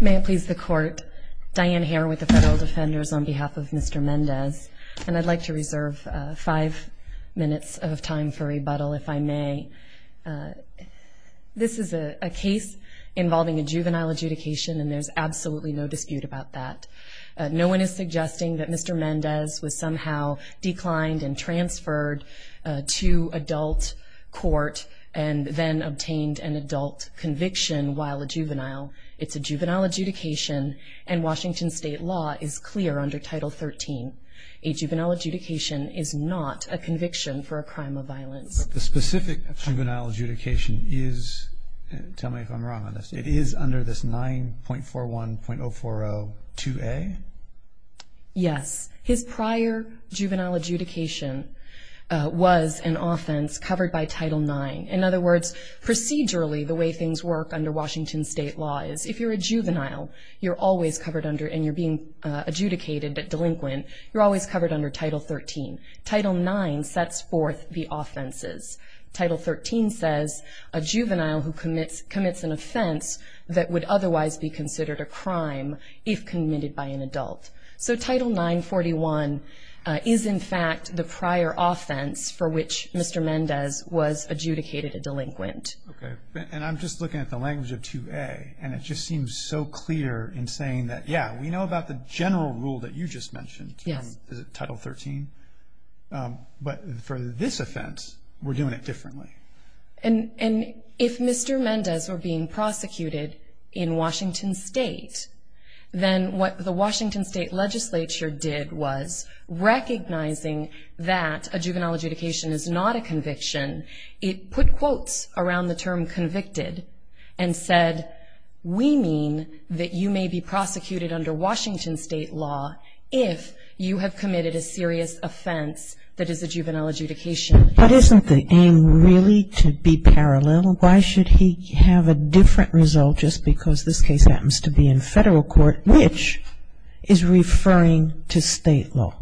May it please the Court, Diane Hare with the Federal Defenders on behalf of Mr. Mendez, and I'd like to reserve five minutes of time for rebuttal if I may. This is a case involving a juvenile adjudication and there's absolutely no dispute about that. No one is suggesting that Mr. Mendez was somehow declined and transferred to adult court and then obtained an adult conviction while a juvenile. It's a juvenile adjudication and Washington State law is clear under Title 13. A juvenile adjudication is not a conviction for a crime of violence. But the specific juvenile adjudication is, tell me if I'm wrong on this, it is under this 9.41.0402A? Yes, his prior juvenile adjudication was an offense covered by Title 9. In other words, procedurally the way things work under Washington State law is if you're a juvenile, you're always covered under, and you're being adjudicated delinquent, you're always covered under Title 13. Title 9 sets forth the offenses. Title 13 says a juvenile who commits an offense that would otherwise be considered a crime if committed by an adult. So Title 9.41 is in fact the prior offense for which Mr. Mendez was adjudicated a delinquent. Okay. And I'm just looking at the language of 2A, and it just seems so clear in saying that, yeah, we know about the general rule that you just mentioned. Yes. Is it Title 13? But for this offense, we're doing it differently. And if Mr. Mendez were being prosecuted in Washington State, then what the Washington State legislature did was recognizing that a juvenile adjudication is not a conviction. It put quotes around the term convicted and said, we mean that you may be prosecuted under Washington State law if you have committed a serious offense that is a juvenile adjudication. But isn't the aim really to be parallel? Why should he have a different result just because this case happens to be in federal court, which is referring to state law?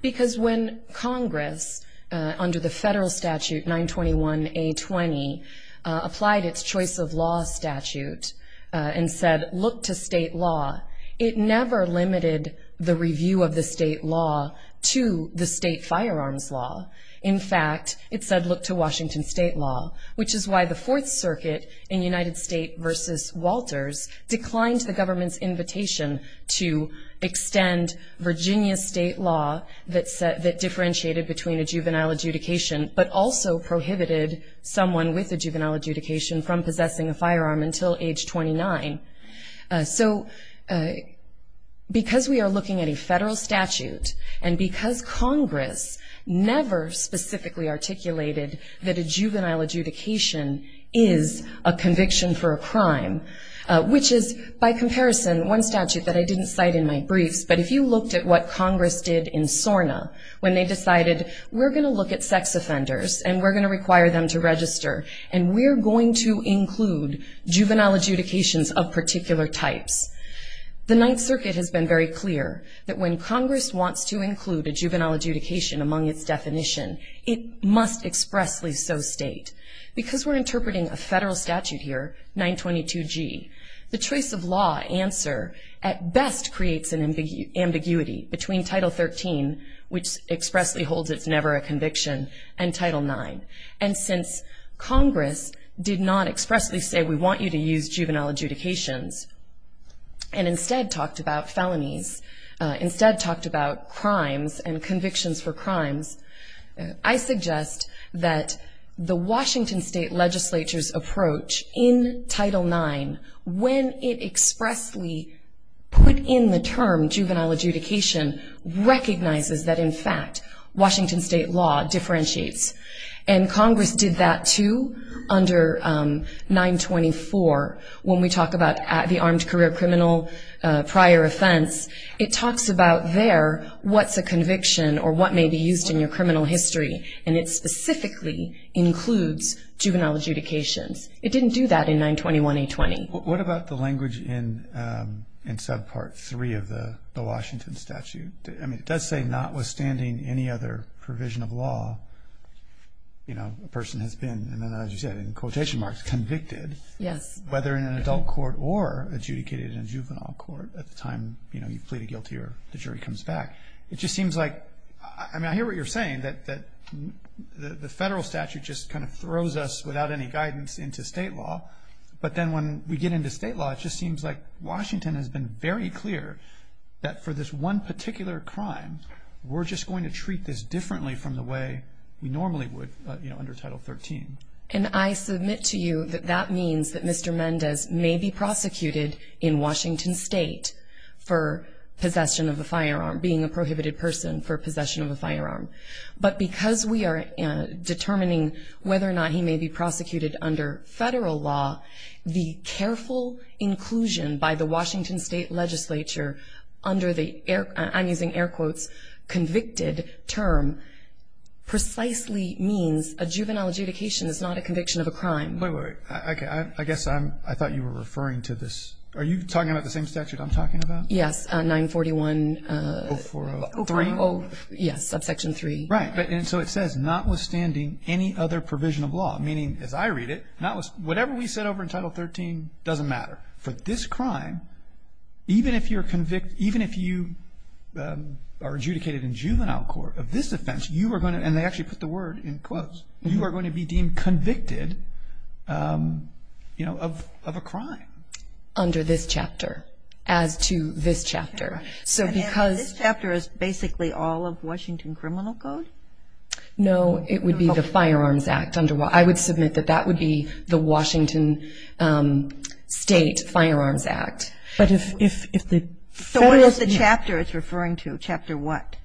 Because when Congress, under the federal statute 921A20, applied its choice of law statute and said look to state law, it never limited the review of the state law to the state firearms law. In fact, it said look to Washington State law, which is why the Fourth Circuit in United States v. Walters declined the government's invitation to extend Virginia state law that differentiated between a juvenile adjudication, but also prohibited someone with a juvenile adjudication from possessing a firearm until age 29. So because we are looking at a federal statute, and because Congress never specifically articulated that a juvenile adjudication is a conviction for a crime, which is, by comparison, one statute that I didn't cite in my briefs, but if you looked at what Congress did in SORNA when they decided we're going to look at sex offenders and we're going to require them to register and we're going to include juvenile adjudications of particular types. The Ninth Circuit has been very clear that when Congress wants to include a juvenile adjudication among its definition, it must expressly so state. Because we're interpreting a federal statute here, 922G, the choice of law answer at best creates an ambiguity between Title 13, which expressly holds it's never a conviction, and Title 9. And since Congress did not expressly say we want you to use juvenile adjudications and instead talked about felonies, instead talked about crimes and convictions for crimes, I suggest that the Washington State Legislature's approach in Title 9, when it expressly put in the term juvenile adjudication, recognizes that, in fact, Washington State law differentiates. And Congress did that too under 924 when we talk about the armed career criminal prior offense. It talks about there what's a conviction or what may be used in your criminal history and it specifically includes juvenile adjudications. It didn't do that in 921A20. What about the language in Subpart 3 of the Washington statute? I mean, it does say notwithstanding any other provision of law, you know, a person has been, as you said, in quotation marks, convicted. Yes. Whether in an adult court or adjudicated in juvenile court at the time, you know, you've pleaded guilty or the jury comes back. It just seems like, I mean, I hear what you're saying, that the federal statute just kind of throws us without any guidance into state law. But then when we get into state law, it just seems like Washington has been very clear that for this one particular crime, we're just going to treat this differently from the way we normally would, you know, under Title 13. And I submit to you that that means that Mr. Mendez may be prosecuted in Washington State for possession of a firearm, being a prohibited person for possession of a firearm. But because we are determining whether or not he may be prosecuted under federal law, the careful inclusion by the Washington State Legislature under the, I'm using air quotes, convicted term precisely means a juvenile adjudication is not a conviction of a crime. Wait, wait, wait. Okay. I guess I thought you were referring to this. Are you talking about the same statute I'm talking about? Yes, 941- 0403. Yes, subsection 3. Right. And so it says, notwithstanding any other provision of law, meaning, as I read it, whatever we said over in Title 13 doesn't matter. But for this crime, even if you are convicted, even if you are adjudicated in juvenile court of this offense, you are going to, and they actually put the word in quotes, you are going to be deemed convicted, you know, of a crime. Under this chapter, as to this chapter. So because- And this chapter is basically all of Washington criminal code? No, it would be the Firearms Act. I would submit that that would be the Washington State Firearms Act. So what is the chapter it's referring to? Chapter what?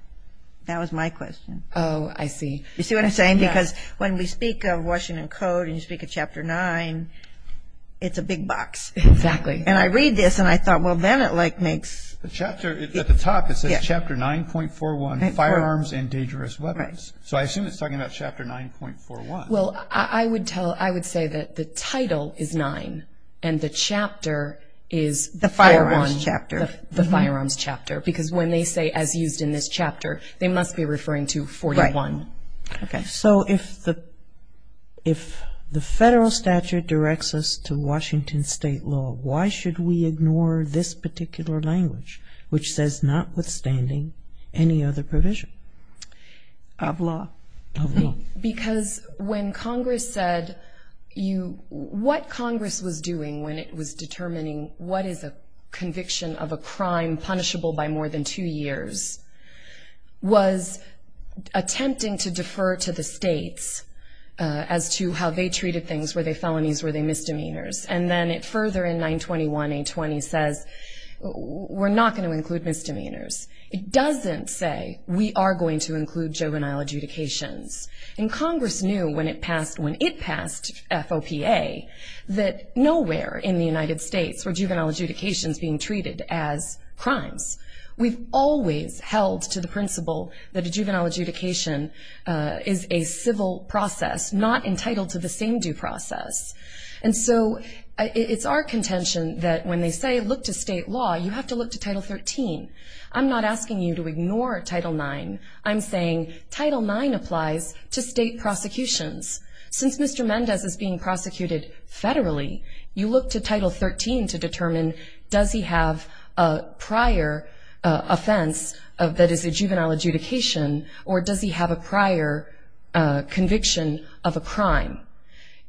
That was my question. Oh, I see. You see what I'm saying? Because when we speak of Washington code and you speak of Chapter 9, it's a big box. Exactly. And I read this and I thought, well, then it like makes- The chapter at the top, it says Chapter 9.41, Firearms and Dangerous Weapons. So I assume it's talking about Chapter 9.41. Well, I would say that the title is 9 and the chapter is 41. The Firearms Chapter. The Firearms Chapter. Because when they say, as used in this chapter, they must be referring to 41. Right. Okay. So if the federal statute directs us to Washington state law, why should we ignore this particular language, which says notwithstanding any other provision? Of law. Of law. Because when Congress said you what Congress was doing when it was determining what is a conviction of a crime punishable by more than two years, was attempting to defer to the states as to how they treated things, were they felonies, were they misdemeanors. And then it further in 921A20 says we're not going to include misdemeanors. It doesn't say we are going to include juvenile adjudications. And Congress knew when it passed FOPA that nowhere in the United States were juvenile adjudications being treated as crimes. We've always held to the principle that a juvenile adjudication is a civil process, not entitled to the same due process. And so it's our contention that when they say look to state law, you have to look to Title 13. I'm not asking you to ignore Title 9. I'm saying Title 9 applies to state prosecutions. Since Mr. Mendez is being prosecuted federally, you look to Title 13 to determine does he have a prior offense that is a juvenile adjudication or does he have a prior conviction of a crime.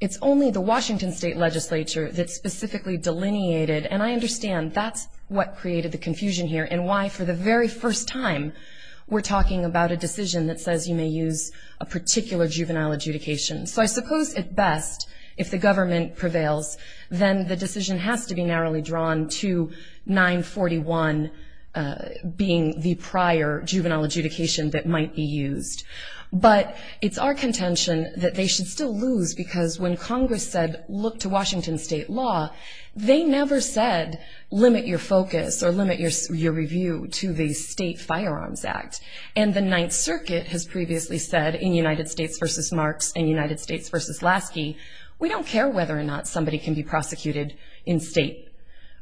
It's only the Washington State Legislature that specifically delineated, and I understand that's what created the confusion here and why, for the very first time, we're talking about a decision that says you may use a particular juvenile adjudication. So I suppose at best, if the government prevails, then the decision has to be narrowly drawn to 941 being the prior juvenile adjudication that might be used. But it's our contention that they should still lose, because when Congress said look to Washington State law, they never said limit your focus or limit your review to the State Firearms Act. And the Ninth Circuit has previously said in United States v. Marks and United States v. Lasky, we don't care whether or not somebody can be prosecuted in state.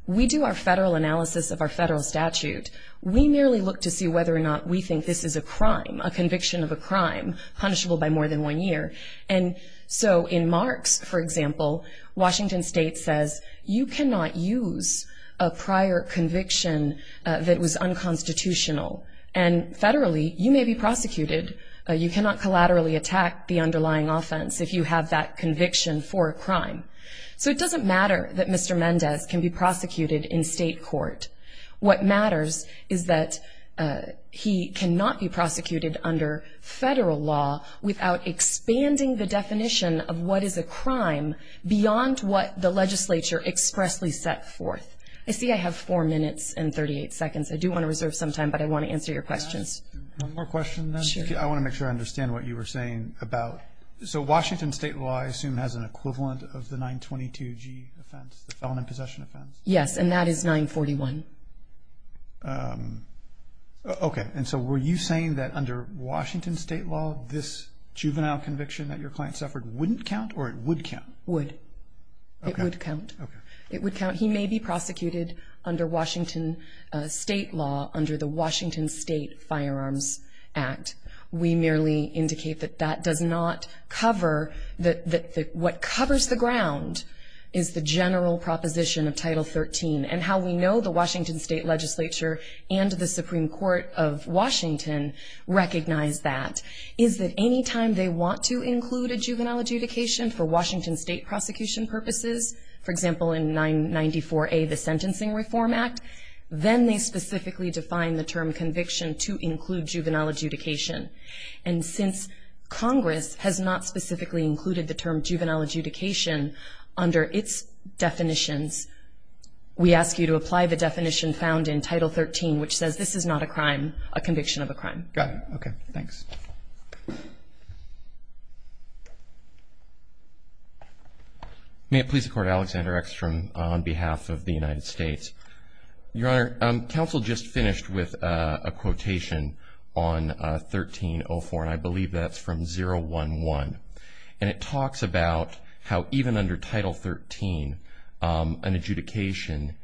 We do our federal analysis of our federal statute. We merely look to see whether or not we think this is a crime, a conviction of a crime punishable by more than one year. And so in Marks, for example, Washington State says you cannot use a prior conviction that was unconstitutional. And federally, you may be prosecuted. You cannot collaterally attack the underlying offense if you have that conviction for a crime. So it doesn't matter that Mr. Mendez can be prosecuted in state court. What matters is that he cannot be prosecuted under federal law without expanding the definition of what is a crime beyond what the legislature expressly set forth. I see I have four minutes and 38 seconds. I do want to reserve some time, but I want to answer your questions. One more question, then. Sure. I want to make sure I understand what you were saying about so Washington State law, I assume, has an equivalent of the 922G offense, the felon in possession offense. Yes, and that is 941. Okay. And so were you saying that under Washington State law, this juvenile conviction that your client suffered wouldn't count or it would count? Would. It would count. It would count. He may be prosecuted under Washington State law under the Washington State Firearms Act. We merely indicate that that does not cover the what covers the ground is the general proposition of Title 13. And how we know the Washington State legislature and the Supreme Court of Washington recognize that is that any time they want to include a juvenile adjudication for Washington State prosecution purposes, for example, in 994A, the Sentencing Reform Act, then they specifically define the term conviction to include juvenile adjudication. And since Congress has not specifically included the term juvenile adjudication under its definitions, we ask you to apply the definition found in Title 13, which says this is not a crime, a conviction of a crime. Got it. Okay. Thanks. Thank you. May it please the Court, Alexander Ekstrom on behalf of the United States. Your Honor, counsel just finished with a quotation on 1304, and I believe that's from 011. And it talks about how even under Title 13, an adjudication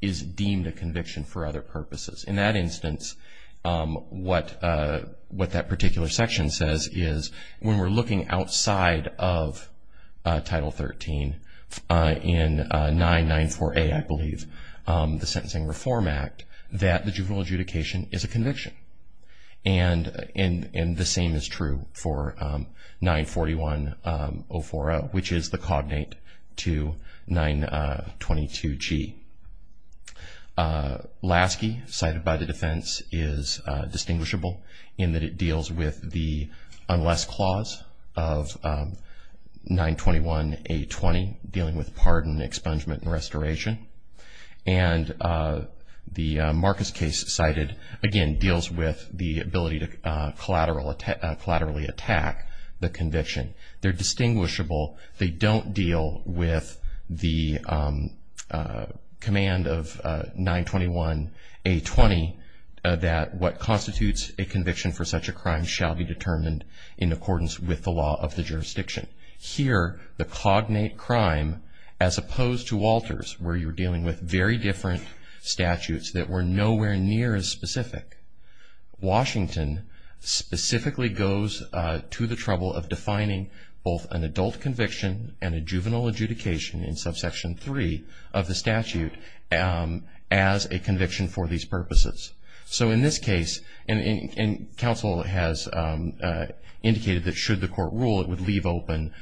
is deemed a conviction for other purposes. In that instance, what that particular section says is when we're looking outside of Title 13 in 994A, I believe, the Sentencing Reform Act, that the juvenile adjudication is a conviction. And the same is true for 941.040, which is the cognate to 922G. Lasky, cited by the defense, is distinguishable in that it deals with the unless clause of 921A20, dealing with pardon, expungement, and restoration. And the Marcus case cited, again, deals with the ability to collaterally attack the conviction. They're distinguishable. They don't deal with the command of 921A20 that what constitutes a conviction for such a crime shall be determined in accordance with the law of the jurisdiction. Here, the cognate crime, as opposed to Walters, where you're dealing with very different statutes that were nowhere near as specific. Washington specifically goes to the trouble of defining both an adult conviction and a juvenile adjudication in subsection 3 of the statute as a conviction for these purposes. So in this case, and counsel has indicated that should the court rule, it would leave open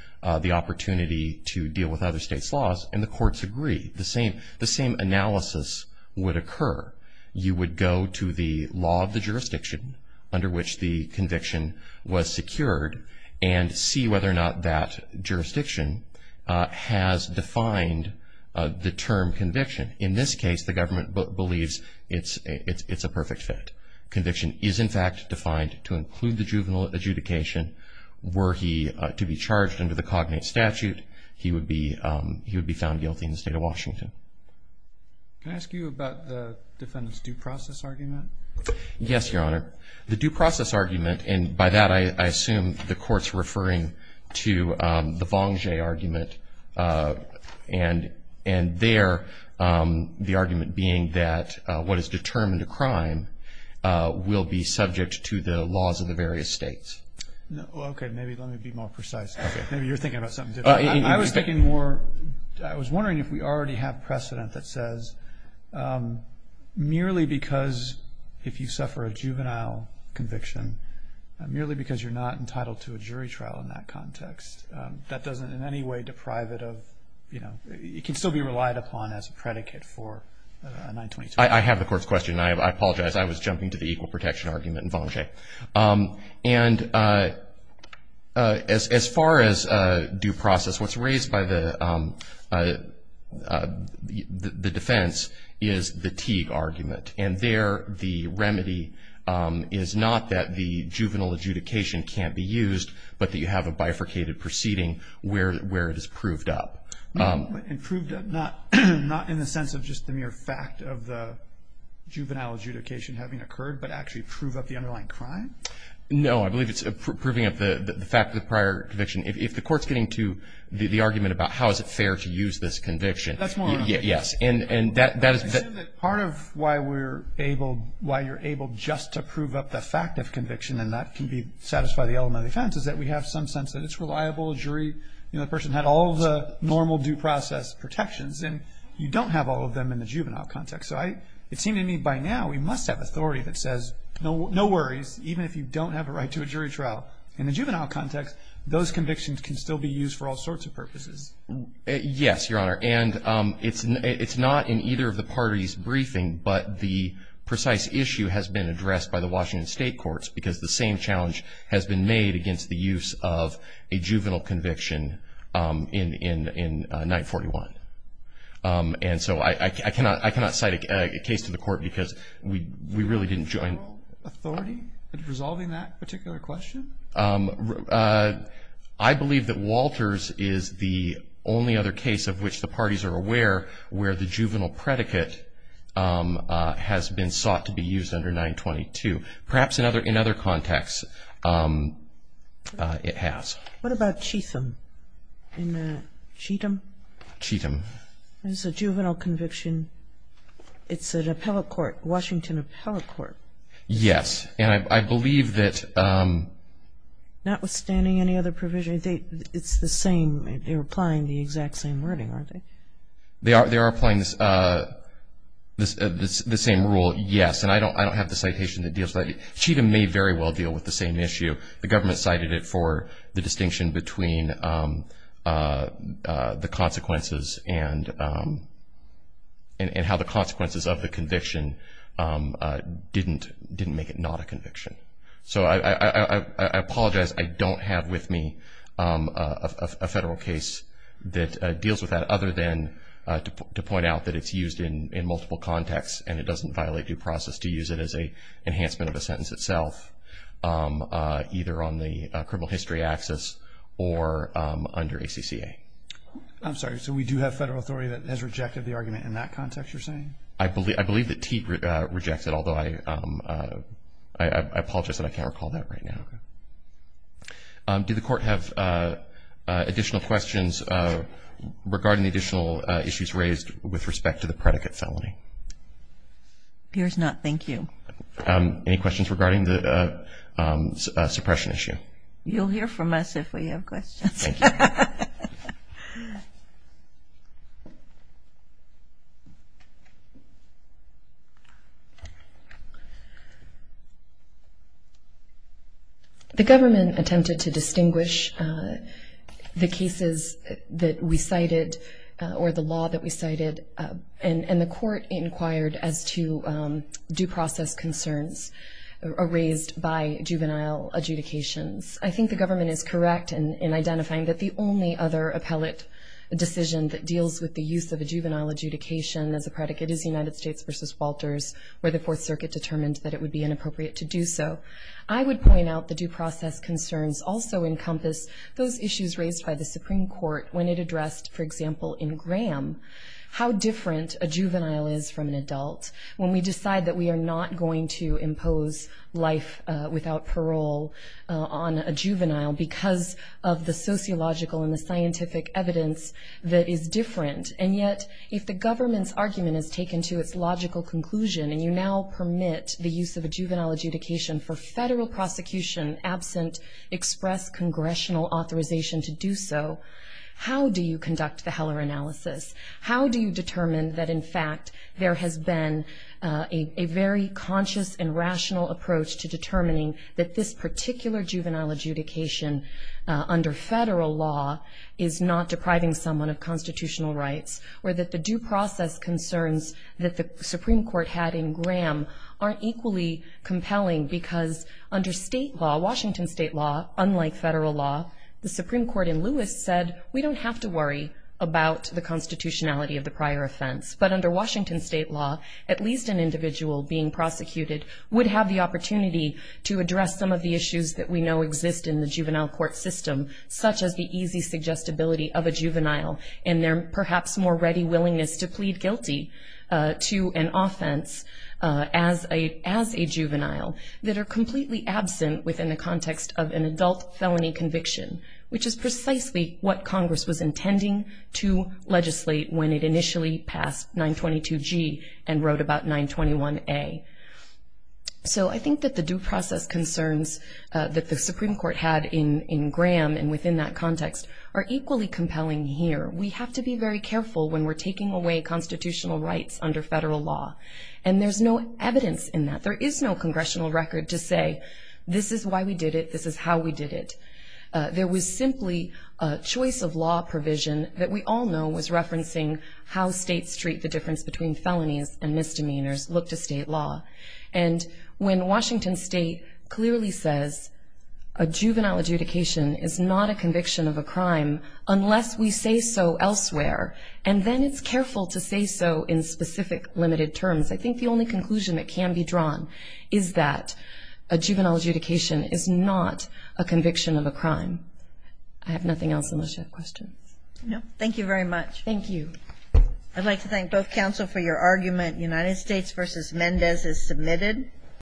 the opportunity to deal with other states' laws, and the courts agree. The same analysis would occur. You would go to the law of the jurisdiction under which the conviction was secured and see whether or not that jurisdiction has defined the term conviction. In this case, the government believes it's a perfect fit. Conviction is, in fact, defined to include the juvenile adjudication. Were he to be charged under the cognate statute, he would be found guilty in the state of Washington. Can I ask you about the defendant's due process argument? Yes, Your Honor. The due process argument, and by that I assume the court's referring to the Vonge argument, and there the argument being that what is determined a crime will be subject to the laws of the various states. Okay. Maybe let me be more precise. Maybe you're thinking about something different. I was thinking more. I was wondering if we already have precedent that says merely because if you suffer a juvenile conviction, merely because you're not entitled to a jury trial in that context, that doesn't in any way deprive it of, you know, it can still be relied upon as a predicate for a 922. I have the court's question, and I apologize. I was jumping to the equal protection argument in Vonge. Okay. And as far as due process, what's raised by the defense is the Teague argument, and there the remedy is not that the juvenile adjudication can't be used, but that you have a bifurcated proceeding where it is proved up. And proved up not in the sense of just the mere fact of the juvenile adjudication having occurred, but actually prove up the underlying crime? No. I believe it's proving up the fact of the prior conviction. If the court's getting to the argument about how is it fair to use this conviction. That's more. Yes. And that is. Part of why we're able, why you're able just to prove up the fact of conviction, and that can satisfy the element of defense is that we have some sense that it's reliable. A jury, you know, the person had all the normal due process protections, and you don't have all of them in the juvenile context. So it seemed to me by now we must have authority that says no worries, even if you don't have a right to a jury trial. In the juvenile context, those convictions can still be used for all sorts of purposes. Yes, Your Honor. And it's not in either of the parties' briefing, but the precise issue has been addressed by the Washington State Courts, because the same challenge has been made against the use of a juvenile conviction in 941. And so I cannot cite a case to the court because we really didn't join. Is there no authority in resolving that particular question? I believe that Walters is the only other case of which the parties are aware where the juvenile predicate has been sought to be used under 922. Perhaps in other contexts it has. What about Cheatham? Cheatham. It's a juvenile conviction. It's an appellate court, Washington Appellate Court. Yes. And I believe that… Notwithstanding any other provision, it's the same. They're applying the exact same wording, aren't they? They are applying the same rule, yes. And I don't have the citation that deals with it. Cheatham may very well deal with the same issue. The government cited it for the distinction between the consequences and how the consequences of the conviction didn't make it not a conviction. So I apologize. I don't have with me a federal case that deals with that, other than to point out that it's used in multiple contexts and it doesn't violate due process to use it as an enhancement of a sentence itself, either on the criminal history axis or under ACCA. I'm sorry. So we do have federal authority that has rejected the argument in that context, you're saying? I believe that Teague rejects it, although I apologize that I can't recall that right now. Okay. Do the Court have additional questions regarding the additional issues raised with respect to the predicate felony? Appears not. Thank you. Any questions regarding the suppression issue? You'll hear from us if we have questions. Thank you. Thank you. The government attempted to distinguish the cases that we cited or the law that we cited, and the Court inquired as to due process concerns raised by juvenile adjudications. I think the government is correct in identifying that the only other appellate decision that deals with the use of a juvenile adjudication as a predicate is United States v. Walters, where the Fourth Circuit determined that it would be inappropriate to do so. I would point out the due process concerns also encompass those issues raised by the Supreme Court when it addressed, for example, in Graham, how different a juvenile is from an adult. When we decide that we are not going to impose life without parole on a juvenile because of the sociological and the scientific evidence that is different, and yet if the government's argument is taken to its logical conclusion and you now permit the use of a juvenile adjudication for federal prosecution, absent express congressional authorization to do so, how do you conduct the Heller analysis? How do you determine that in fact there has been a very conscious and rational approach to determining that this particular juvenile adjudication under federal law is not depriving someone of constitutional rights, or that the due process concerns that the Supreme Court had in Graham aren't equally compelling, because under state law, Washington state law, unlike federal law, the Supreme Court in Lewis said we don't have to worry about the constitutionality of the prior offense. But under Washington state law, at least an individual being prosecuted would have the opportunity to address some of the issues that we know exist in the juvenile court system, such as the easy suggestibility of a juvenile and their perhaps more ready willingness to plead guilty to an offense as a juvenile, that are completely absent within the context of an adult felony conviction, which is precisely what Congress was intending to legislate when it initially passed 922G and wrote about 921A. So I think that the due process concerns that the Supreme Court had in Graham and within that context are equally compelling here. We have to be very careful when we're taking away constitutional rights under federal law, and there's no evidence in that. There is no congressional record to say this is why we did it, this is how we did it. There was simply a choice of law provision that we all know was referencing how states treat the difference between felonies and misdemeanors, look to state law. And when Washington state clearly says a juvenile adjudication is not a conviction of a crime, unless we say so elsewhere, and then it's careful to say so in specific limited terms, I think the only conclusion that can be drawn is that a juvenile adjudication is not a conviction of a crime. I have nothing else unless you have questions. Thank you very much. Thank you. I'd like to thank both counsel for your argument. United States v. Mendez is submitted.